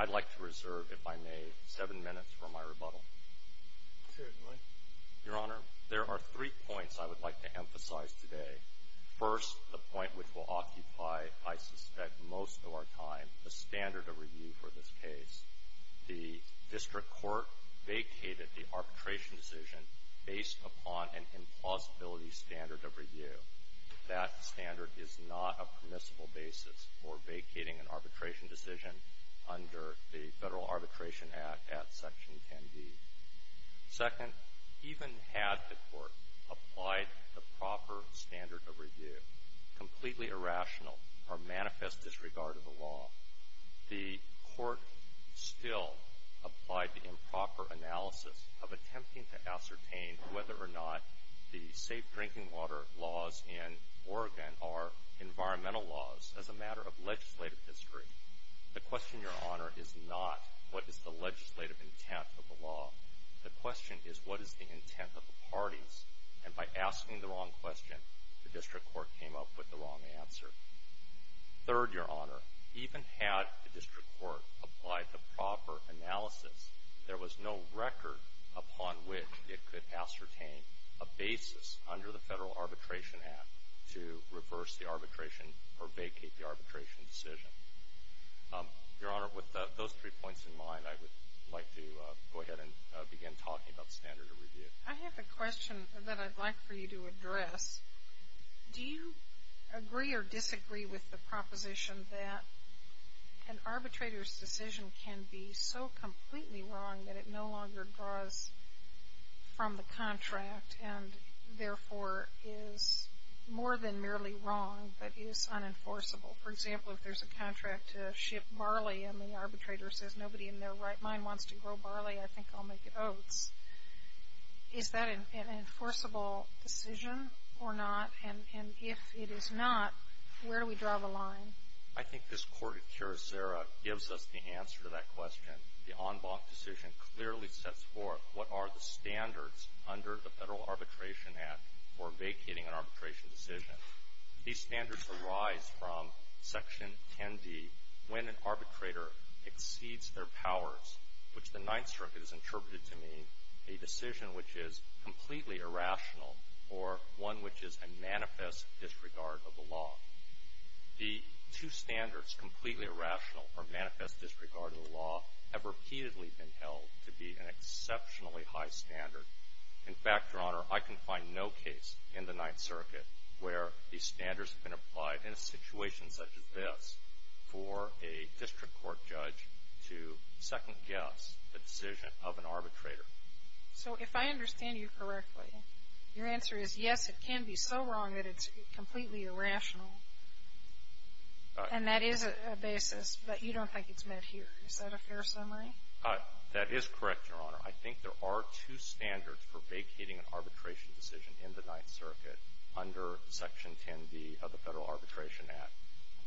I'd like to reserve, if I may, seven minutes for my rebuttal. Certainly. Your Honor, there are three points I would like to emphasize today. First, the point which will occupy, I suspect, most of our time, a standard of review for this case. The district court vacated the arbitration decision based upon an implausibility standard of review. That standard is not a permissible basis for vacating an arbitration decision under the Federal Arbitration Act at Section 10b. Second, even had the court applied the proper standard of review, completely irrational or manifest disregard of the law, the court still applied the improper analysis of attempting to ascertain whether or not the safe drinking water laws in Oregon are environmental laws as a matter of legislative history. The question, Your Honor, is not what is the legislative intent of the law. The question is what is the intent of the parties. And by asking the wrong question, the district court came up with the wrong answer. Third, Your Honor, even had the district court applied the proper analysis, there was no record upon which it could ascertain a basis under the Federal Arbitration Act to reverse the arbitration or vacate the arbitration decision. Your Honor, with those three points in mind, I would like to go ahead and begin talking about standard of review. I have a question that I'd like for you to address. Do you agree or disagree with the proposition that an arbitrator's decision can be so completely wrong that it no longer draws from the contract and therefore is more than merely wrong but is unenforceable? For example, if there's a contract to ship barley and the arbitrator says nobody in their right mind wants to grow barley, I think I'll make oaths, is that an enforceable decision or not? And if it is not, where do we draw the line? I think this court at Curacao gives us the answer to that question. The en banc decision clearly sets forth what are the standards under the Federal Arbitration Act for vacating an arbitration decision. These standards arise from Section 10d, when an arbitrator exceeds their powers, which the Ninth Circuit has interpreted to mean a decision which is completely irrational or one which is a manifest disregard of the law. The two standards, completely irrational or manifest disregard of the law, have repeatedly been held to be an exceptionally high standard. In fact, Your Honor, I can find no case in the Ninth Circuit where these standards have been applied in a situation such as this for a district court judge to second-guess the decision of an arbitrator. So if I understand you correctly, your answer is yes, it can be so wrong that it's completely irrational, and that is a basis, but you don't think it's met here. Is that a fair summary? That is correct, Your Honor. I think there are two standards for vacating an arbitration decision in the Ninth Circuit under Section 10d of the Federal Arbitration Act.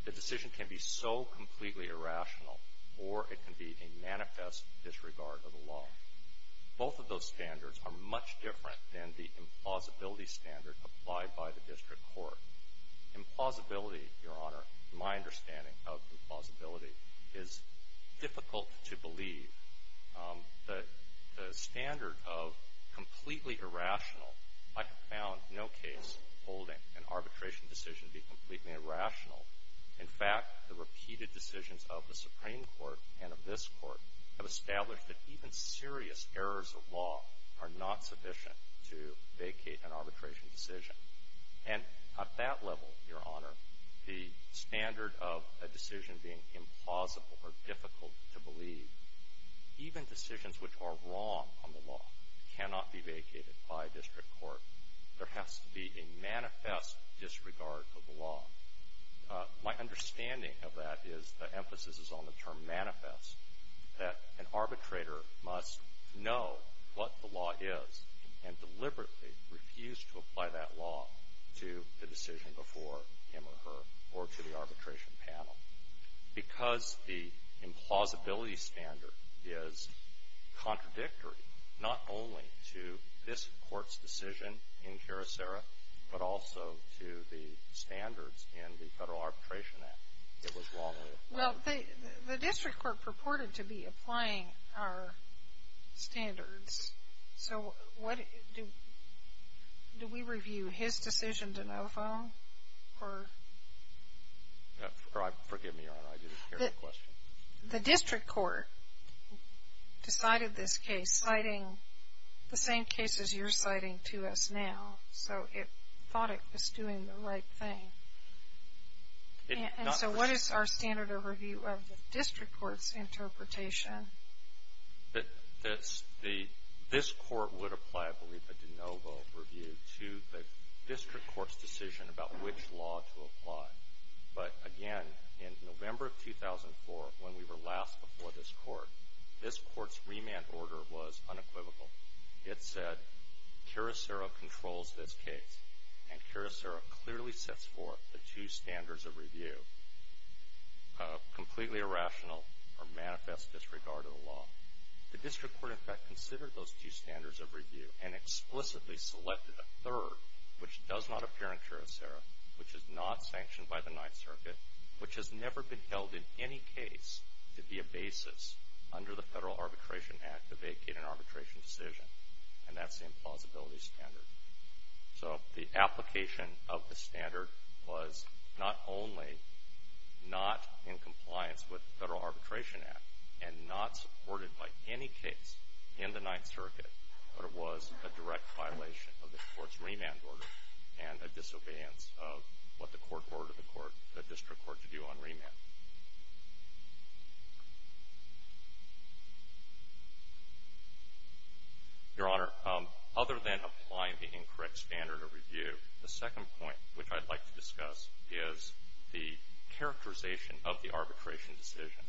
The decision can be so completely irrational or it can be a manifest disregard of the law. Both of those standards are much different than the implausibility standard applied by the district court. Implausibility, Your Honor, my understanding of implausibility, is difficult to believe. The standard of completely irrational, I have found no case holding an arbitration decision to be completely irrational. In fact, the repeated decisions of the Supreme Court and of this Court have established that even serious errors of law are not sufficient to vacate an arbitration decision. And at that level, Your Honor, the standard of a decision being implausible or difficult to believe, even decisions which are wrong on the law cannot be vacated by a district court. There has to be a manifest disregard of the law. My understanding of that is the emphasis is on the term manifest, that an arbitrator must know what the law is and deliberately refuse to apply that law to the decision before him or her or to the arbitration panel. Because the implausibility standard is contradictory not only to this Court's decision in Caracera, but also to the standards in the Federal Arbitration Act, it was wrongly applied. Well, the district court purported to be applying our standards. So what do we review, his decision to no-foam or? Forgive me, Your Honor, I didn't hear the question. The district court decided this case, citing the same case as you're citing to us now. So it thought it was doing the right thing. And so what is our standard overview of the district court's interpretation? This Court would apply, I believe, a de novo review to the district court's decision about which law to apply. But, again, in November of 2004, when we were last before this Court, this Court's remand order was unequivocal. It said Caracera controls this case, and Caracera clearly sets forth the two standards of review, completely irrational or manifest disregard of the law. The district court, in fact, considered those two standards of review and explicitly selected a third, which does not appear in Caracera, which is not sanctioned by the Ninth Circuit, which has never been held in any case to be a basis under the Federal Arbitration Act to vacate an arbitration decision. And that's the implausibility standard. So the application of the standard was not only not in compliance with the Federal Arbitration Act and not supported by any case in the Ninth Circuit, but it was a direct violation of this Court's remand order and a disobedience of what the Court ordered the district court to do on remand. Your Honor, other than applying the incorrect standard of review, the second point which I'd like to discuss is the characterization of the arbitration decision.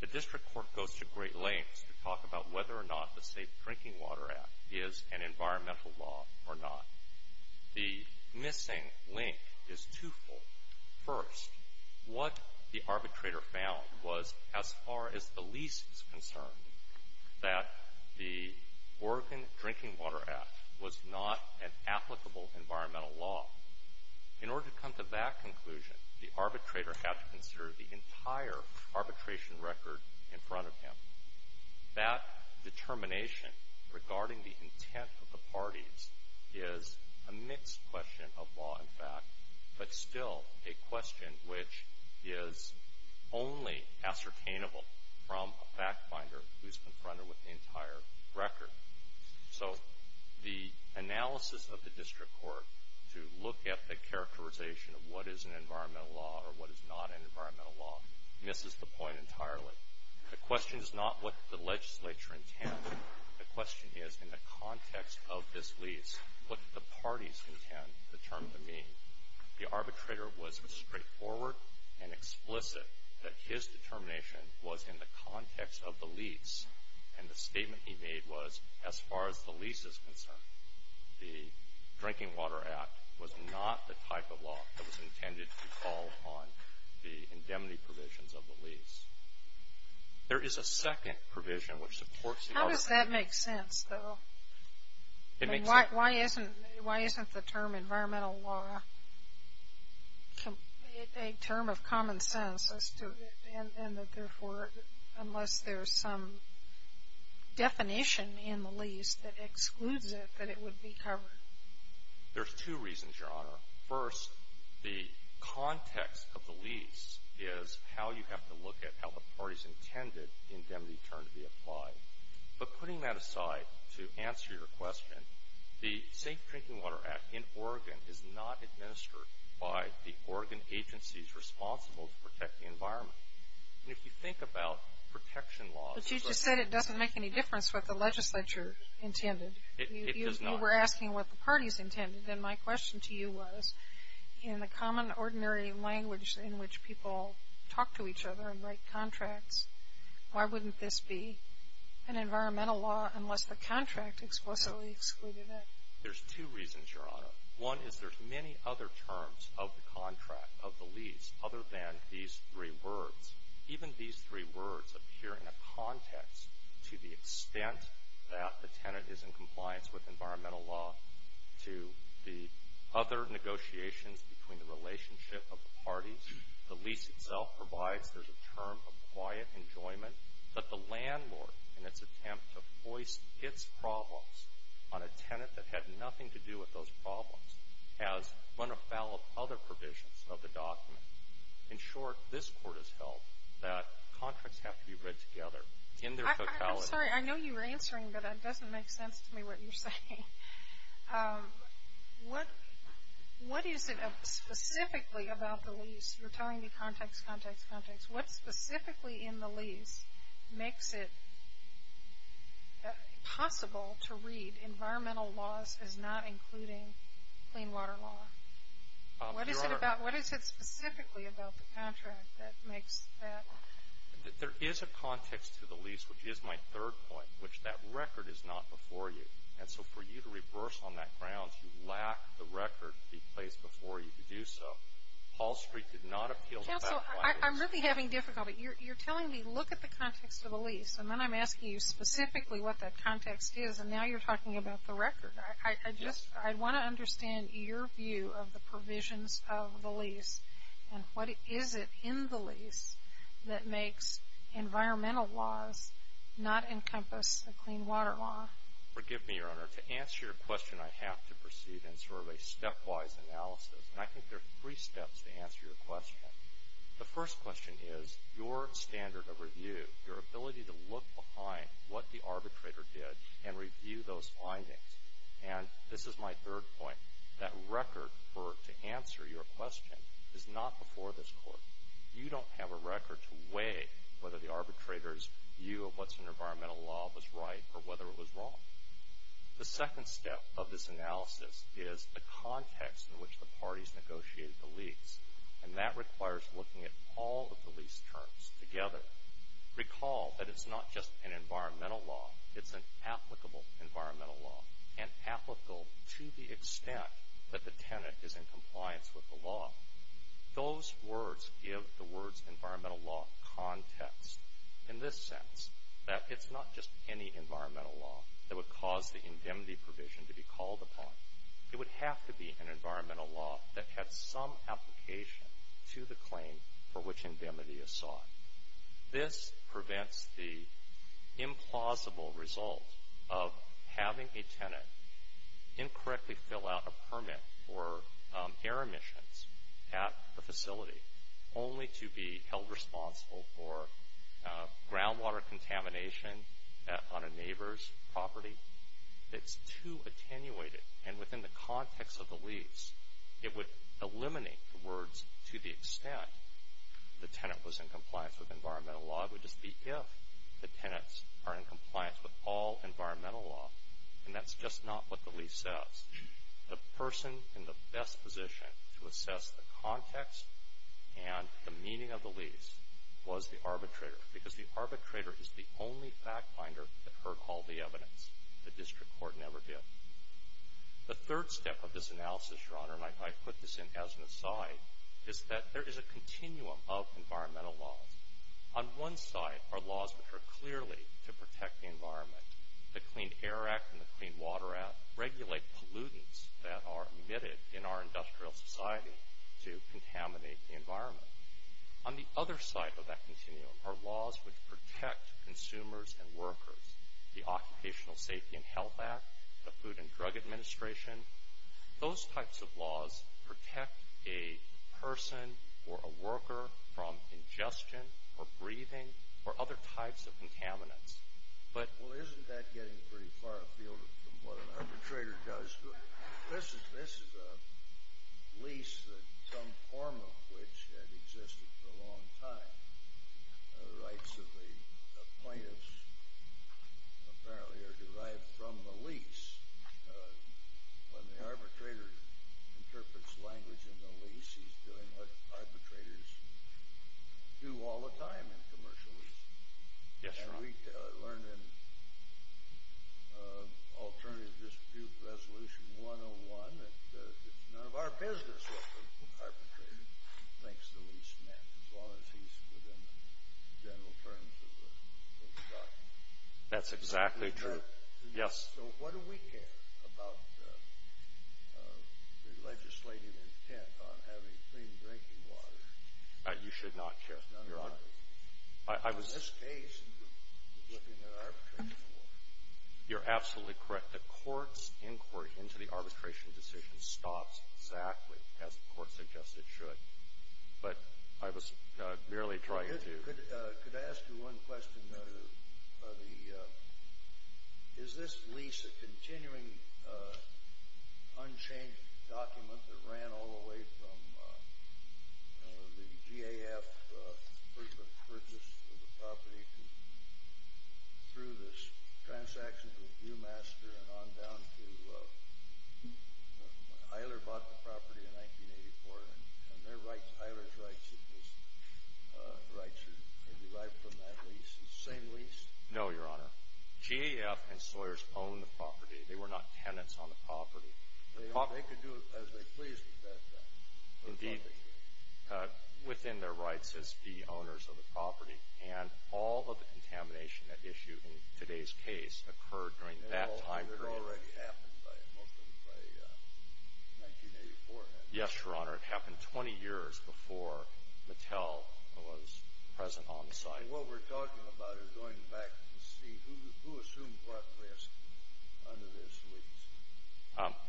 The district court goes to great lengths to talk about whether or not the Safe Drinking Water Act is an environmental law or not. The missing link is twofold. First, what the arbitrator found was, as far as the least is concerned, that the Oregon Drinking Water Act was not an applicable environmental law. In order to come to that conclusion, the arbitrator had to consider the entire arbitration record in front of him. That determination regarding the intent of the parties is a mixed question of law and fact, but still a question which is only ascertainable from a fact finder who's confronted with the entire record. So, the analysis of the district court to look at the characterization of what is an environmental law or what is not an environmental law misses the point entirely. The question is not what the legislature intends. The question is, in the context of this lease, what did the parties intend the term to mean? The arbitrator was straightforward and explicit that his determination was in the context of the lease, and the statement he made was, as far as the lease is concerned, the Drinking Water Act was not the type of law that was intended to fall on the indemnity provisions of the lease. There is a second provision which supports the other. How does that make sense, though? It makes sense. Why isn't the term environmental law a term of common sense, and therefore, unless there's some definition in the lease that excludes it, that it would be covered? There's two reasons, Your Honor. First, the context of the lease is how you have to look at how the parties intended the indemnity term to be applied. But putting that aside to answer your question, the Safe Drinking Water Act in Oregon is not administered by the Oregon agencies responsible to protect the environment. And if you think about protection laws... But you just said it doesn't make any difference what the legislature intended. It does not. You were asking what the parties intended, and my question to you was, in the common ordinary language in which people talk to each other and write contracts, why wouldn't this be an environmental law unless the contract explicitly excluded it? There's two reasons, Your Honor. One is there's many other terms of the contract, of the lease, other than these three words. Even these three words appear in a context to the extent that the tenant is in compliance with environmental law to the other negotiations between the relationship of the parties. The lease itself provides there's a term of quiet enjoyment, but the landlord in its attempt to voice its problems on a tenant that had nothing to do with those problems has run afoul of other provisions of the document. In short, this Court has held that contracts have to be read together in their totality. I'm sorry. I know you were answering, but it doesn't make sense to me what you're saying. What is it specifically about the lease? You were telling me context, context, context. What specifically in the lease makes it possible to read environmental laws as not including clean water law? Your Honor. What is it specifically about the contract that makes that? There is a context to the lease, which is my third point, which that record is not before you. And so for you to reverse on that ground, you lack the record to be placed before you could do so. Hall Street did not appeal to that context. Counsel, I'm really having difficulty. You're telling me look at the context of the lease, and then I'm asking you specifically what that context is, and now you're talking about the record. I just want to understand your view of the provisions of the lease, and what is it in the lease that makes environmental laws not encompass the clean water law? Forgive me, Your Honor. To answer your question, I have to proceed in sort of a stepwise analysis, and I think there are three steps to answer your question. The first question is your standard of review, your ability to look behind what the arbitrator did and review those findings. And this is my third point. That record to answer your question is not before this Court. You don't have a record to weigh whether the arbitrator's view of what's in environmental law was right or whether it was wrong. The second step of this analysis is the context in which the parties negotiated the lease, and that requires looking at all of the lease terms together. Recall that it's not just an environmental law. It's an applicable environmental law, and applicable to the extent that the tenant is in compliance with the law. Those words give the words environmental law context in this sense, that it's not just any environmental law that would cause the indemnity provision to be called upon. It would have to be an environmental law that had some application to the claim for which indemnity is sought. This prevents the implausible result of having a tenant incorrectly fill out a permit for air emissions at the facility, only to be held responsible for groundwater contamination on a neighbor's property. It's too attenuated, and within the context of the lease, it would eliminate the words to the extent the tenant was in compliance with environmental law. It would just be if the tenants are in compliance with all environmental law, and that's just not what the lease says. The person in the best position to assess the context and the meaning of the lease was the arbitrator, because the arbitrator is the only fact finder that heard all the evidence. The district court never did. The third step of this analysis, Your Honor, and I put this in as an aside, is that there is a continuum of environmental laws. On one side are laws which are clearly to protect the environment. The Clean Air Act and the Clean Water Act regulate pollutants that are emitted in our industrial society to contaminate the environment. On the other side of that continuum are laws which protect consumers and workers. The Occupational Safety and Health Act, the Food and Drug Administration, those types of laws protect a person or a worker from ingestion or breathing or other types of contaminants. Well, isn't that getting pretty far afield from what an arbitrator does? This is a lease that some form of which had existed for a long time. The rights of the plaintiffs apparently are derived from the lease. When the arbitrator interprets language in the lease, he's doing what arbitrators do all the time in commercial leases. Yes, Your Honor. And we learned in Alternative Dispute Resolution 101 that it's none of our business what the arbitrator thinks the lease meant, as long as he's within the general terms of the document. That's exactly true. So what do we care about the legislative intent on having clean drinking water? You should not care, Your Honor. In this case, you're looking at arbitration forward. You're absolutely correct. The court's inquiry into the arbitration decision stops exactly as the court suggests it should. But I was merely trying to do — through this transaction with Viewmaster and on down to when Eiler bought the property in 1984. And Eiler's rights are derived from that lease. It's the same lease? No, Your Honor. GAF and Sawyers owned the property. They were not tenants on the property. They could do as they pleased with that property. Within their rights as the owners of the property. And all of the contamination that issued in today's case occurred during that time period. And all of it had already happened, most of it, by 1984, hadn't it? Yes, Your Honor. It happened 20 years before Mattel was present on the site. What we're talking about is going back to see who assumed what risk under this lease.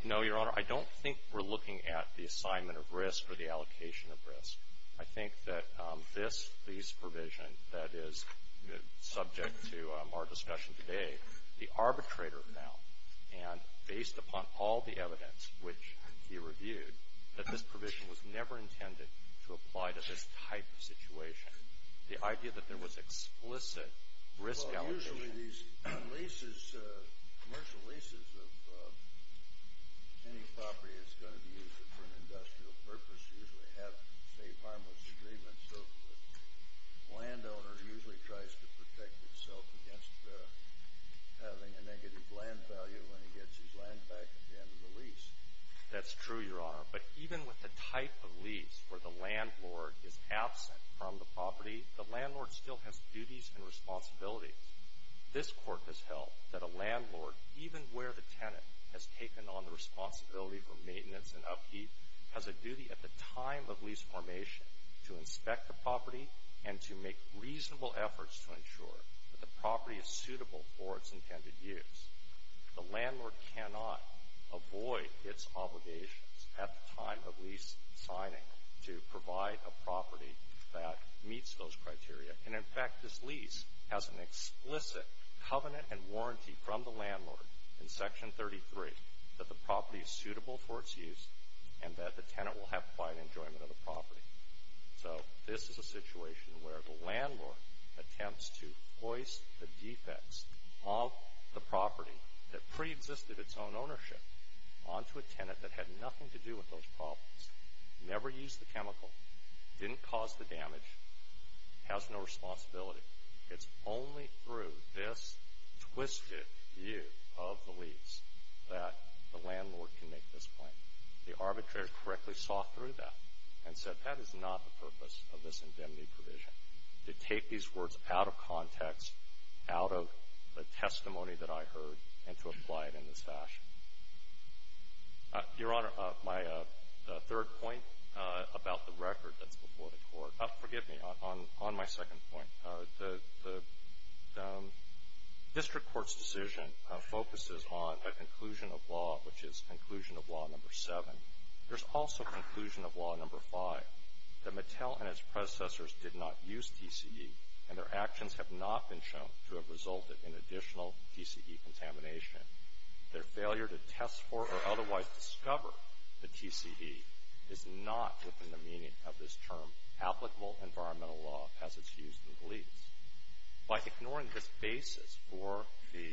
No, Your Honor. I don't think we're looking at the assignment of risk or the allocation of risk. I think that this lease provision that is subject to our discussion today, the arbitrator found, and based upon all the evidence which he reviewed, that this provision was never intended to apply to this type of situation. The idea that there was explicit risk allocation. Usually these leases, commercial leases of any property that's going to be used for an industrial purpose usually have state harmless agreements. So the landowner usually tries to protect itself against having a negative land value when he gets his land back at the end of the lease. That's true, Your Honor. But even with the type of lease where the landlord is absent from the property, the landlord still has duties and responsibilities. This court has held that a landlord, even where the tenant has taken on the responsibility for maintenance and upkeep, has a duty at the time of lease formation to inspect the property and to make reasonable efforts to ensure that the property is suitable for its intended use. The landlord cannot avoid its obligations at the time of lease signing to provide a property that meets those criteria. And, in fact, this lease has an explicit covenant and warranty from the landlord in Section 33 that the property is suitable for its use and that the tenant will have quiet enjoyment of the property. So this is a situation where the landlord attempts to hoist the defects of the property that preexisted its own ownership onto a tenant that had nothing to do with those problems. Never used the chemical. Didn't cause the damage. Has no responsibility. It's only through this twisted view of the lease that the landlord can make this claim. The arbitrator correctly saw through that and said that is not the purpose of this indemnity provision, to take these words out of context, out of the testimony that I heard, and to apply it in this fashion. Your Honor, my third point about the record that's before the Court. Forgive me. On my second point, the district court's decision focuses on a conclusion of law, which is Conclusion of Law No. 7. There's also Conclusion of Law No. 5, that Mattel and its predecessors did not use TCE, and their actions have not been shown to have resulted in additional TCE contamination. Their failure to test for or otherwise discover the TCE is not within the meaning of this term applicable environmental law as it's used in the lease. By ignoring this basis for the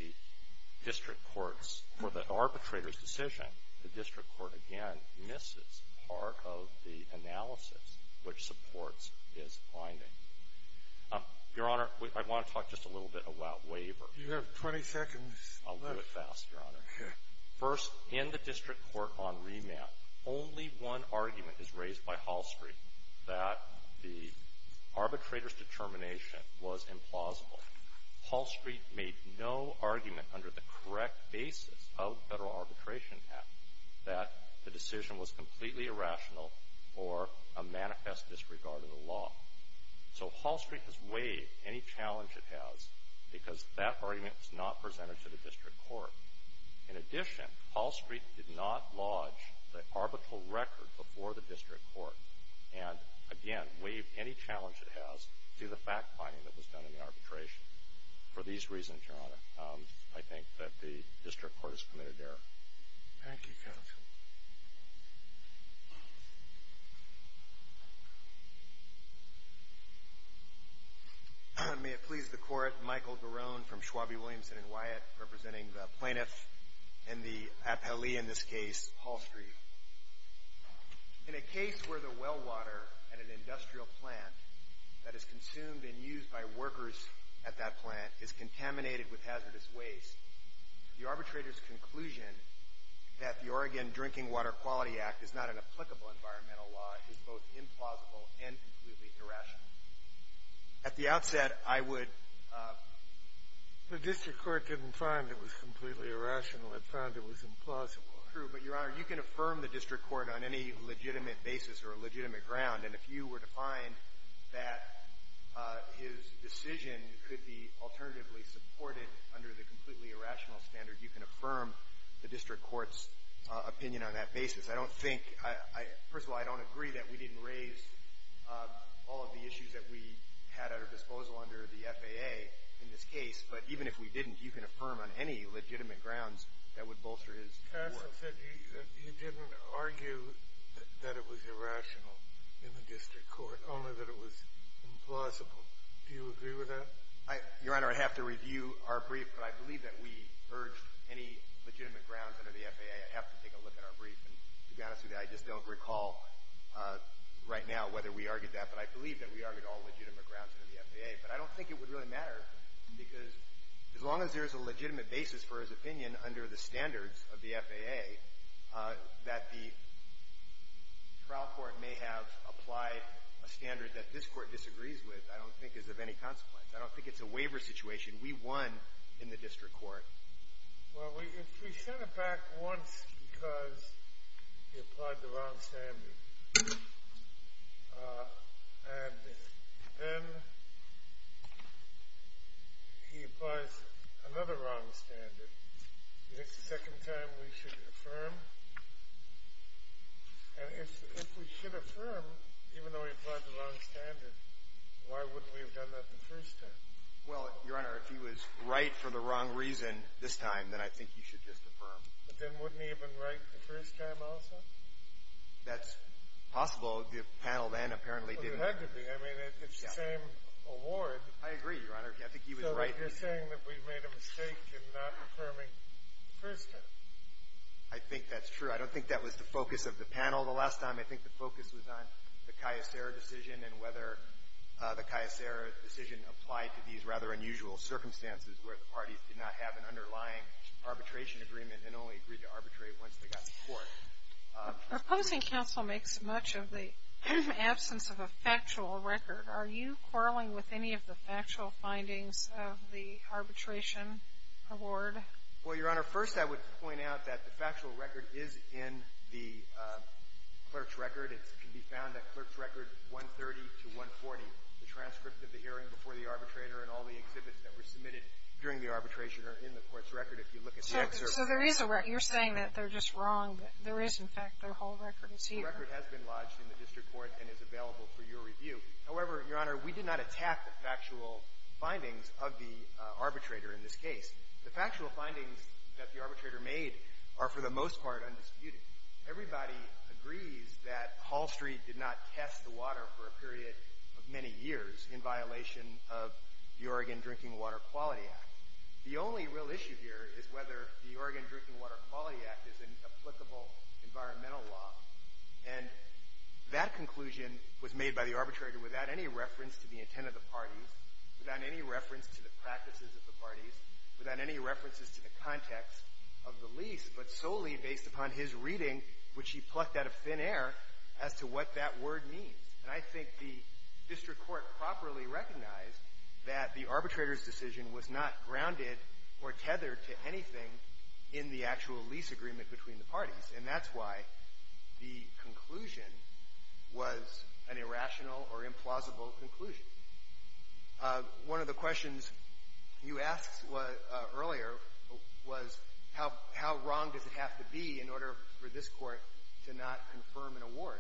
district court's, for the arbitrator's decision, the district court again misses part of the analysis which supports this finding. Your Honor, I want to talk just a little bit about waivers. You have 20 seconds. I'll do it fast, Your Honor. Sure. First, in the district court on remand, only one argument is raised by Hall Street, that the arbitrator's determination was implausible. Hall Street made no argument under the correct basis of the Federal Arbitration Act that the decision was completely irrational or a manifest disregard of the law. So Hall Street has waived any challenge it has because that argument was not presented to the district court. In addition, Hall Street did not lodge the arbitral record before the district court and, again, waived any challenge it has to the fact-finding that was done in the arbitration. For these reasons, Your Honor, I think that the district court has committed error. Thank you, counsel. May it please the Court, Michael Garone from Schwabie, Williamson & Wyatt, representing the plaintiff and the appellee in this case, Hall Street. In a case where the well water at an industrial plant that is consumed and used by workers at that plant is contaminated with hazardous waste, the arbitrator's conclusion that the Oregon Drinking Water Quality Act is not an applicable environmental law is both implausible and completely irrational. At the outset, I would ---- The district court didn't find it was completely irrational. It found it was implausible. True. But, Your Honor, you can affirm the district court on any legitimate basis or a legitimate ground. And if you were to find that his decision could be alternatively supported under the completely irrational standard, you can affirm the district court's opinion on that basis. I don't think ---- First of all, I don't agree that we didn't raise all of the issues that we had at our disposal under the FAA in this case. But even if we didn't, you can affirm on any legitimate grounds that would bolster his work. Professor said you didn't argue that it was irrational in the district court, only that it was implausible. Do you agree with that? Your Honor, I have to review our brief. But I believe that we urged any legitimate grounds under the FAA. I have to take a look at our brief. And to be honest with you, I just don't recall right now whether we argued that. But I believe that we argued all legitimate grounds under the FAA. But I don't think it would really matter because as long as there is a legitimate basis for his opinion under the standards of the FAA, that the trial court may have applied a standard that this court disagrees with, I don't think is of any consequence. I don't think it's a waiver situation. We won in the district court. Well, we sent him back once because he applied the wrong standard. And then he applies another wrong standard. Is this the second time we should affirm? And if we should affirm, even though he applied the wrong standard, why wouldn't we have done that the first time? Well, Your Honor, if he was right for the wrong reason this time, then I think you should just affirm. But then wouldn't he have been right the first time also? That's possible. The panel then apparently didn't. Well, there had to be. I mean, it's the same award. I agree, Your Honor. I think he was right. So you're saying that we made a mistake in not affirming the first time. I think that's true. I don't think that was the focus of the panel the last time. I think the focus was on the Caisera decision and whether the Caisera decision applied to these rather unusual circumstances where the parties did not have an underlying arbitration agreement and only agreed to arbitrate once they got to court. Our public counsel makes much of the absence of a factual record. Are you quarreling with any of the factual findings of the arbitration award? Well, Your Honor, first I would point out that the factual record is in the clerk's record. It can be found at Clerk's Record 130 to 140. The transcript of the hearing before the arbitrator and all the exhibits that were submitted during the arbitration are in the court's record if you look at the excerpt. So there is a record. You're saying that they're just wrong, but there is, in fact. Their whole record is here. The record has been lodged in the district court and is available for your review. However, Your Honor, we did not attack the factual findings of the arbitrator in this case. The factual findings that the arbitrator made are, for the most part, undisputed. Everybody agrees that Hall Street did not test the water for a period of many years in violation of the Oregon Drinking Water Quality Act. The only real issue here is whether the Oregon Drinking Water Quality Act is an applicable environmental law, and that conclusion was made by the arbitrator without any reference to the intent of the parties, without any reference to the practices of the parties, without any references to the context of the lease, but solely based upon his reading, which he plucked out of thin air, as to what that word means. And I think the district court properly recognized that the arbitrator's decision was not grounded or tethered to anything in the actual lease agreement between the parties, and that's why the conclusion was an irrational or implausible conclusion. One of the questions you asked earlier was, how wrong does it have to be in order for this Court to not confirm an award?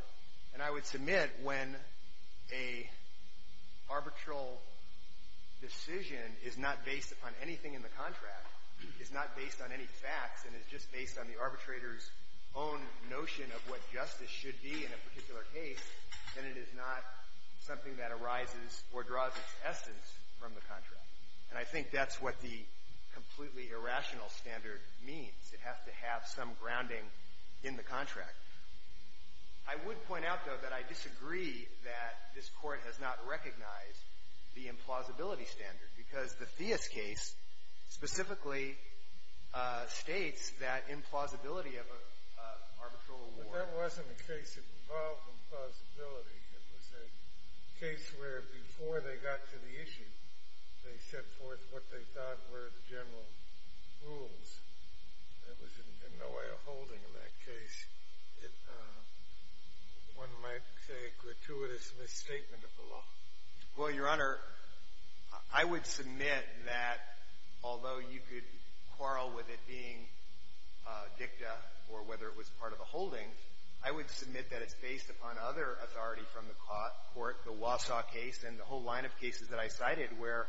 And I would submit when an arbitral decision is not based upon anything in the contract, is not based on any facts, and is just based on the arbitrator's own notion of what draws its essence from the contract. And I think that's what the completely irrational standard means. It has to have some grounding in the contract. I would point out, though, that I disagree that this Court has not recognized the implausibility standard, because the Theis case specifically states that implausibility of an arbitral award. Well, that wasn't a case involving plausibility. It was a case where, before they got to the issue, they set forth what they thought were the general rules. There was in no way a holding in that case. One might say a gratuitous misstatement of the law. Well, Your Honor, I would submit that, although you could quarrel with it being dicta or whether it was part of a holding, I would submit that it's based upon other authority from the court, the Wausau case and the whole line of cases that I cited, where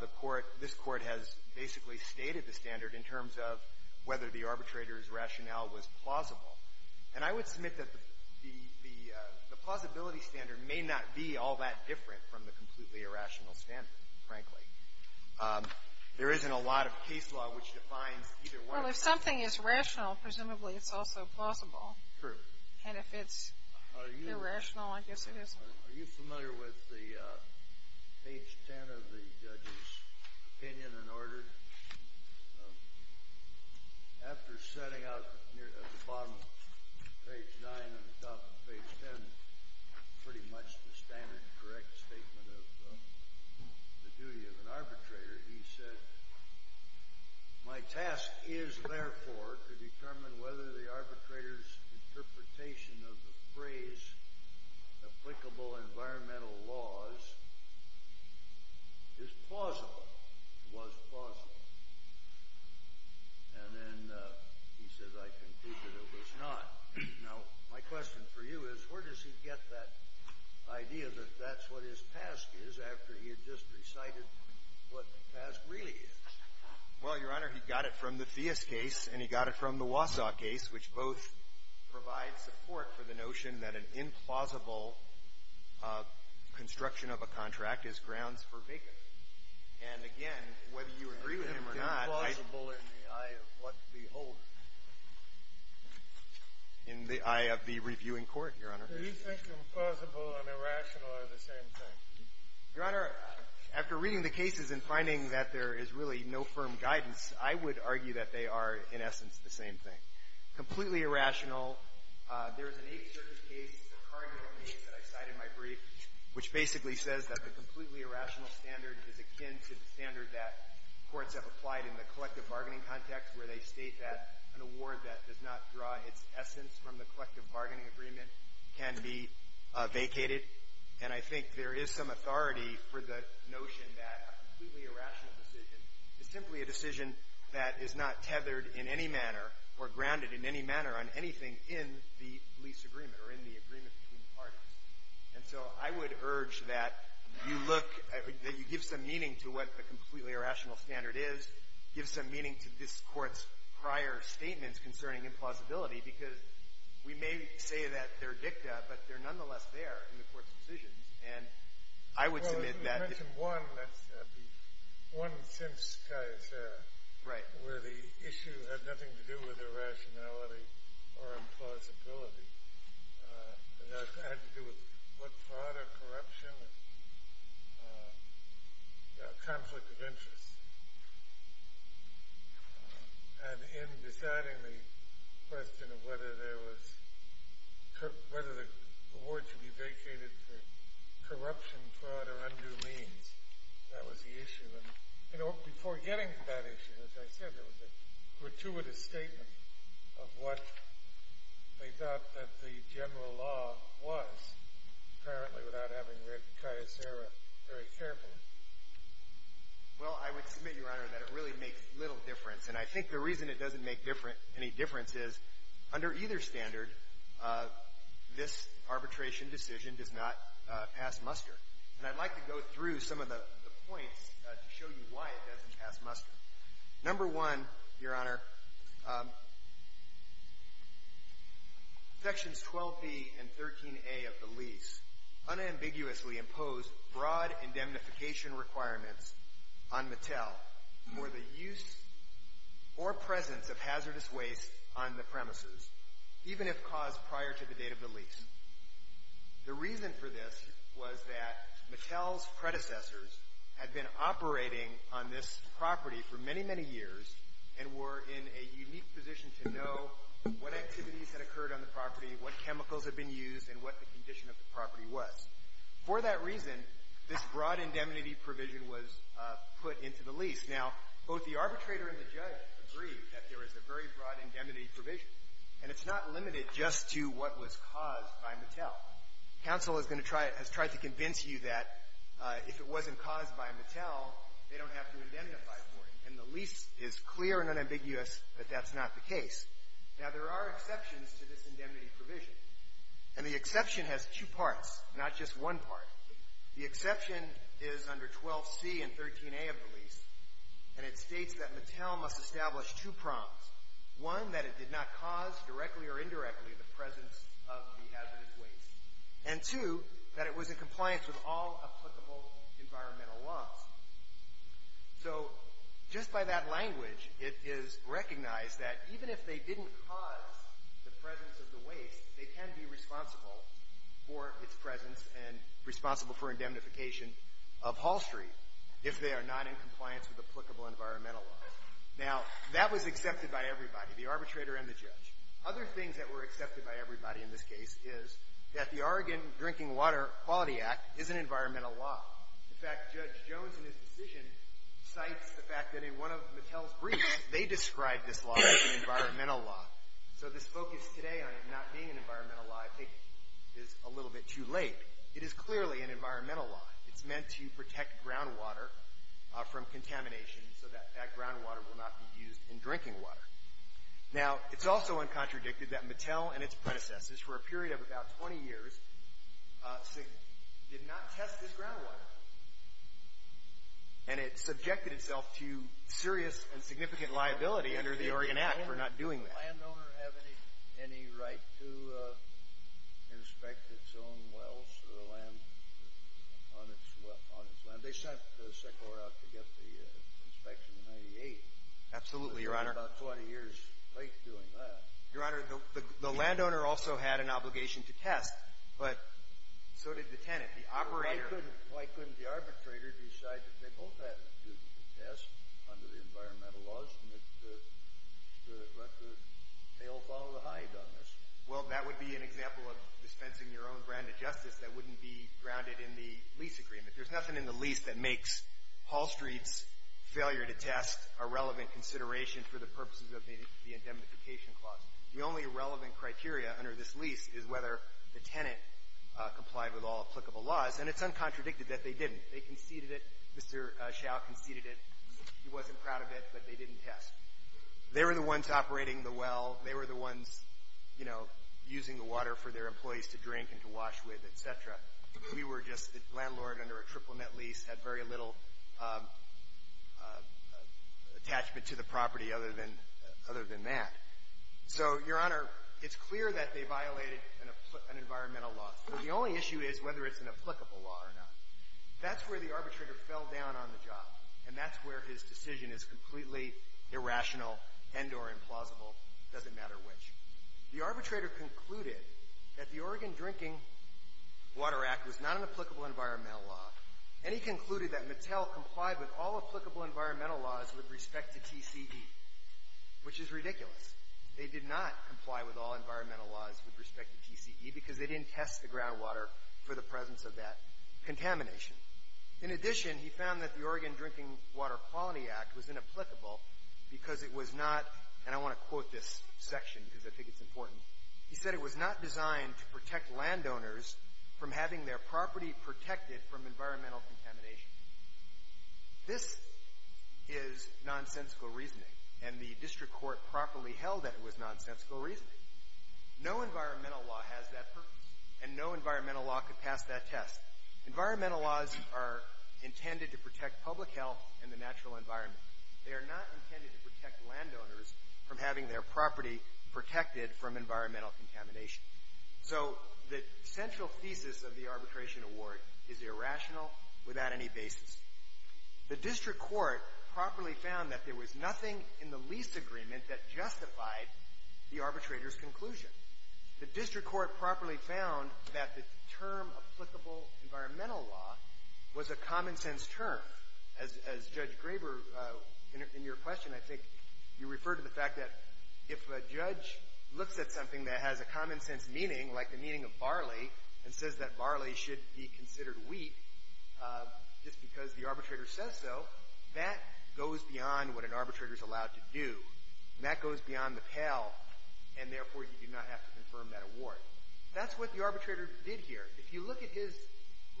the court, this Court has basically stated the standard in terms of whether the arbitrator's rationale was plausible. And I would submit that the plausibility standard may not be all that different from the completely irrational standard, frankly. There isn't a lot of case law which defines either way. Well, if something is rational, presumably it's also plausible. True. And if it's irrational, I guess it isn't. Are you familiar with the page 10 of the judge's opinion and order? After setting out at the bottom of page 9 and the top of page 10 pretty much the standard correct statement of the duty of an arbitrator, he said, My task is, therefore, to determine whether the arbitrator's interpretation of the phrase applicable environmental laws is plausible, was plausible. And then he said, I conclude that it was not. Now, my question for you is, where does he get that idea that that's what his task is after he had just recited what the task really is? Well, Your Honor, he got it from the Theis case and he got it from the Wausau case, which both provide support for the notion that an implausible construction of a contract is grounds for vacant. And again, whether you agree with him or not, It's implausible in the eye of what we hold. In the eye of the reviewing court, Your Honor. Do you think implausible and irrational are the same thing? Your Honor, after reading the cases and finding that there is really no firm guidance, I would argue that they are, in essence, the same thing. Completely irrational, there is an 8th Circuit case, a cardinal case that I cited in my brief, which basically says that the completely irrational standard is akin to the standard that courts have applied in the collective bargaining context, where they state that an award that does not draw its essence from the collective bargaining agreement can be vacated. And I think there is some authority for the notion that a completely irrational decision is simply a decision that is not tethered in any manner or grounded in any manner on anything in the lease agreement or in the agreement between parties. And so I would urge that you look — that you give some meaning to what a completely irrational standard is, give some meaning to this Court's prior statements concerning implausibility, because we may say that they're dicta, but they're nonetheless there in the Court's decisions. And I would submit that — Well, if we mention one, that's the one since Caiusera. Right. Where the issue had nothing to do with irrationality or implausibility. It had to do with what fraud or corruption or conflict of interest. And in deciding the question of whether there was — whether the award should be vacated for corruption, fraud, or undue means, that was the issue. And before getting to that issue, as I said, there was a gratuitous statement of what they thought that the general law was, apparently without having read Caiusera very carefully. Well, I would submit, Your Honor, that it really makes little difference. And I think the reason it doesn't make any difference is, under either standard, this arbitration decision does not pass muster. And I'd like to go through some of the points to show you why it doesn't pass muster. Number one, Your Honor, Sections 12b and 13a of the lease unambiguously imposed broad indemnification requirements on Mattel for the use or presence of hazardous waste on the premises, even if caused prior to the date of the lease. The reason for this was that Mattel's predecessors had been operating on this property for many, many years and were in a unique position to know what activities had occurred on the property, what chemicals had been used, and what the condition of the property was. For that reason, this broad indemnity provision was put into the lease. Now, both the arbitrator and the judge agree that there is a very broad indemnity provision, and it's not limited just to what was caused by Mattel. Counsel is going to try — has tried to convince you that if it wasn't caused by Mattel, they don't have to indemnify for it. And the lease is clear and unambiguous that that's not the case. Now, there are exceptions to this indemnity provision, and the exception has two parts, not just one part. The exception is under 12c and 13a of the lease, and it states that Mattel must establish two prongs. One, that it did not cause directly or indirectly the presence of the hazardous So, just by that language, it is recognized that even if they didn't cause the presence of the waste, they can be responsible for its presence and responsible for indemnification of Hall Street if they are not in compliance with applicable environmental laws. Now, that was accepted by everybody, the arbitrator and the judge. Other things that were accepted by everybody in this case is that the Oregon Drinking Water Quality Act is an environmental law. In fact, Judge Jones, in his decision, cites the fact that in one of Mattel's briefs, they described this law as an environmental law. So, this focus today on it not being an environmental law, I think, is a little bit too late. It is clearly an environmental law. It's meant to protect groundwater from contamination so that that groundwater will not be used in drinking water. Now, it's also uncontradicted that Mattel and its predecessors, for a period of about 20 years, did not test this groundwater. And it subjected itself to serious and significant liability under the Oregon Act for not doing that. Did the landowner have any right to inspect its own wells on its land? They sent the SECOR out to get the inspection in 1998. Absolutely, Your Honor. It was about 20 years late doing that. Your Honor, the landowner also had an obligation to test, but so did the tenant, the operator. Why couldn't the arbitrator decide that they both had a duty to test under the environmental laws and let the tail follow the hide on this? Well, that would be an example of dispensing your own brand of justice that wouldn't be grounded in the lease agreement. There's nothing in the lease that makes Hall Street's failure to test a relevant consideration for the purposes of the indemnification clause. The only relevant criteria under this lease is whether the tenant complied with all applicable laws, and it's uncontradicted that they didn't. They conceded it. Mr. Schau conceded it. He wasn't proud of it, but they didn't test. They were the ones operating the well. They were the ones, you know, using the water for their employees to drink and to wash with, et cetera. We were just the landlord under a triple-net lease, had very little attachment to the property other than that. So, Your Honor, it's clear that they violated an environmental law. The only issue is whether it's an applicable law or not. That's where the arbitrator fell down on the job, and that's where his decision is completely irrational and or implausible, doesn't matter which. The arbitrator concluded that the Oregon Drinking Water Act was not an applicable environmental law, and he concluded that Mattel complied with all applicable environmental laws with respect to TCE, which is ridiculous. They did not comply with all environmental laws with respect to TCE because they didn't test the groundwater for the presence of that contamination. In addition, he found that the Oregon Drinking Water Quality Act was inapplicable because it was not, and I want to quote this section because I think it's important, he said it was not designed to protect landowners from having their property protected from environmental contamination. This is nonsensical reasoning, and the district court properly held that it was nonsensical reasoning. No environmental law has that purpose, and no environmental law could pass that test. Environmental laws are intended to protect public health and the natural environment. They are not intended to protect landowners from having their property protected from environmental contamination. So, the central thesis of the arbitration award is irrational without any basis. The district court properly found that there was nothing in the lease agreement that justified the arbitrator's conclusion. The district court properly found that the term applicable environmental law was a common sense meaning, like the meaning of barley, and says that barley should be considered wheat. Just because the arbitrator says so, that goes beyond what an arbitrator is allowed to do, and that goes beyond the pale, and therefore you do not have to confirm that award. That's what the arbitrator did here. If you look at his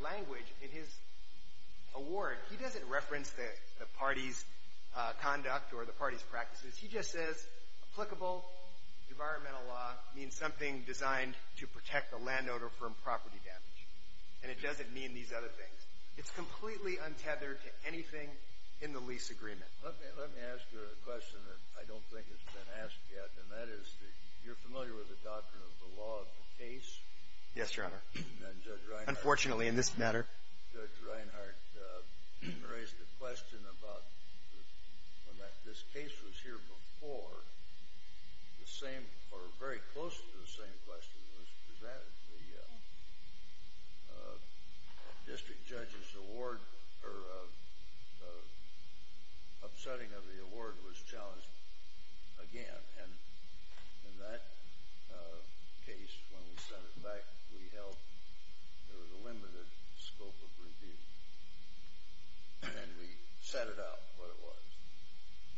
language in his award, he doesn't reference the party's claim to conduct or the party's practices. He just says applicable environmental law means something designed to protect the landowner from property damage. And it doesn't mean these other things. It's completely untethered to anything in the lease agreement. Let me ask you a question that I don't think has been asked yet, and that is, you're familiar with the doctrine of the law of the case? Yes, Your Honor. And Judge Reinhart. Unfortunately, in this matter. Judge Reinhart raised a question about when this case was here before, the same or very close to the same question was presented. The district judge's award or upsetting of the award was challenged again, and in that case, when we sent it back, we held there was a limited scope of review, and we set it up what it was.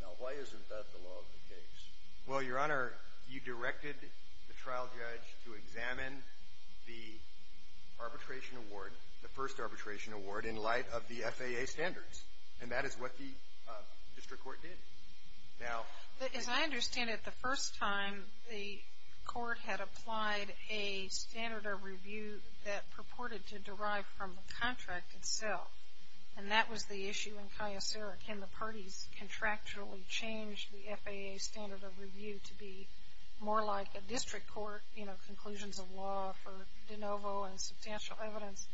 Now, why isn't that the law of the case? Well, Your Honor, you directed the trial judge to examine the arbitration award, the first arbitration award, in light of the FAA standards, and that is what the district court did. Now. As I understand it, the first time, the court had applied a standard of review that purported to derive from the contract itself, and that was the issue in Cayacera. Can the parties contractually change the FAA standard of review to be more like a district court, you know, conclusions of law for de novo and substantial evidence?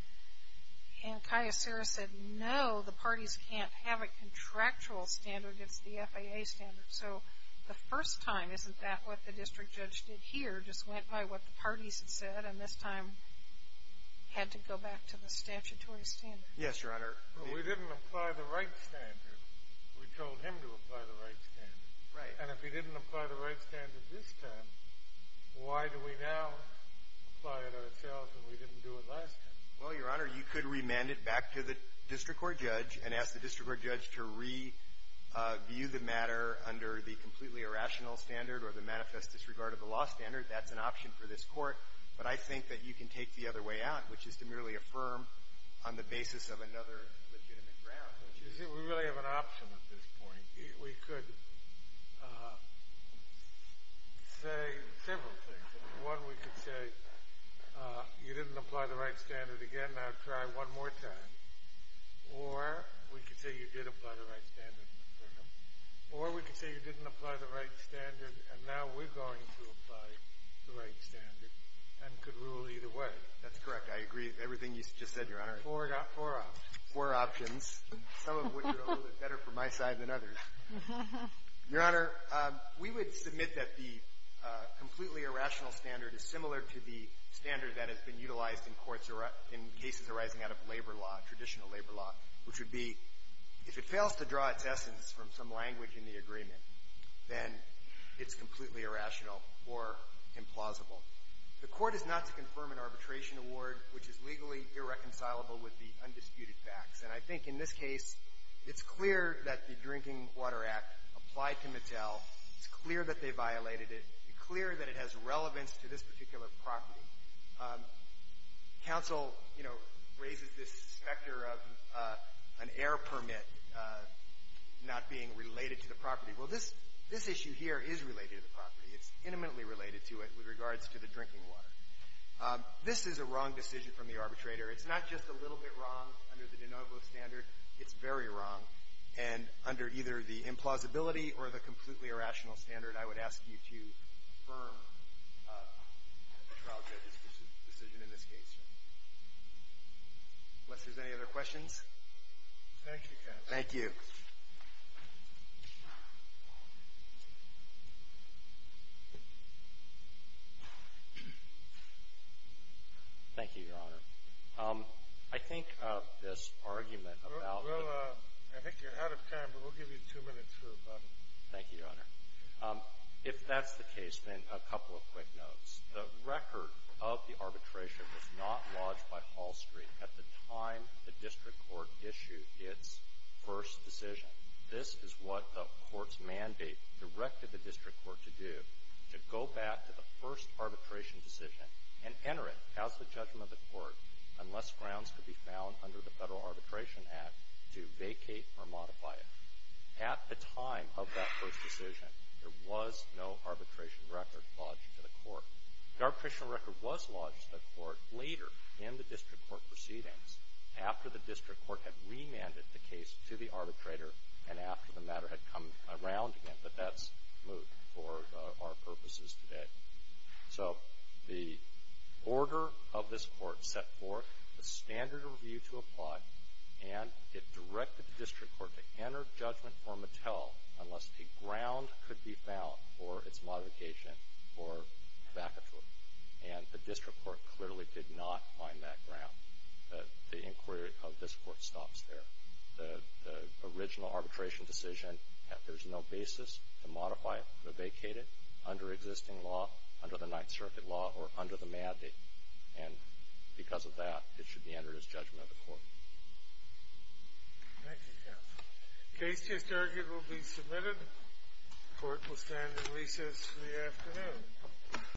And Cayacera said, no, the parties can't have a contractual standard. It's the FAA standard. So the first time, isn't that what the district judge did here, just went by what the parties had said and this time had to go back to the statutory standard? Yes, Your Honor. But we didn't apply the right standard. We told him to apply the right standard. Right. And if he didn't apply the right standard this time, why do we now apply it ourselves and we didn't do it last time? Well, Your Honor, you could remand it back to the district court judge and ask the district court judge to review the matter under the completely irrational standard or the manifest disregard of the law standard. That's an option for this Court. But I think that you can take the other way out, which is to merely affirm on the basis of another legitimate ground. You see, we really have an option at this point. We could say several things. One, we could say, you didn't apply the right standard again. Now try one more time. Or we could say you did apply the right standard. Or we could say you didn't apply the right standard and now we're going to apply the right standard and could rule either way. That's correct. I agree with everything you just said, Your Honor. Four options. Four options. Some of which are a little bit better for my side than others. Your Honor, we would submit that the completely irrational standard is similar to the standard that has been utilized in courts in cases arising out of labor law, traditional labor law, which would be if it fails to draw its essence from some language in the agreement, then it's completely irrational or implausible. The Court is not to confirm an arbitration award which is legally irreconcilable with the undisputed facts. And I think in this case, it's clear that the Drinking Water Act applied to Mattel. It's clear that they violated it. It's clear that it has relevance to this particular property. Counsel, you know, raises this specter of an air permit not being related to the property. Well, this issue here is related to the property. It's intimately related to it with regards to the drinking water. This is a wrong decision from the arbitrator. It's not just a little bit wrong under the de novo standard. It's very wrong. And under either the implausibility or the completely irrational standard, I would ask you to confirm the trial judge's decision in this case. Unless there's any other questions. Thank you, counsel. Thank you. Thank you, Your Honor. I think this argument about the ---- Well, I think you're out of time, but we'll give you two minutes for a comment. Thank you, Your Honor. If that's the case, then a couple of quick notes. The record of the arbitration was not lodged by Hall Street at the time the district court issued its first decision. This is what the court's mandate directed the district court to do, to go back to the first arbitration decision and enter it as the judgment of the court unless grounds could be found under the Federal Arbitration Act to vacate or modify it. At the time of that first decision, there was no arbitration record lodged to the court. The arbitration record was lodged to the court later in the district court proceedings after the district court had remanded the case to the arbitrator and after the matter had come around again. But that's moot for our purposes today. So the order of this court set forth a standard review to apply, and it directed the district court to enter judgment for Mattel unless a ground could be found for its modification or vacatur. And the district court clearly did not find that ground. The inquiry of this court stops there. The original arbitration decision, there's no basis to modify it or vacate it under existing law, under the Ninth Circuit law, or under the mandate. And because of that, it should be entered as judgment of the court. Thank you, counsel. Case just argued will be submitted. Court will stand in recess for the afternoon.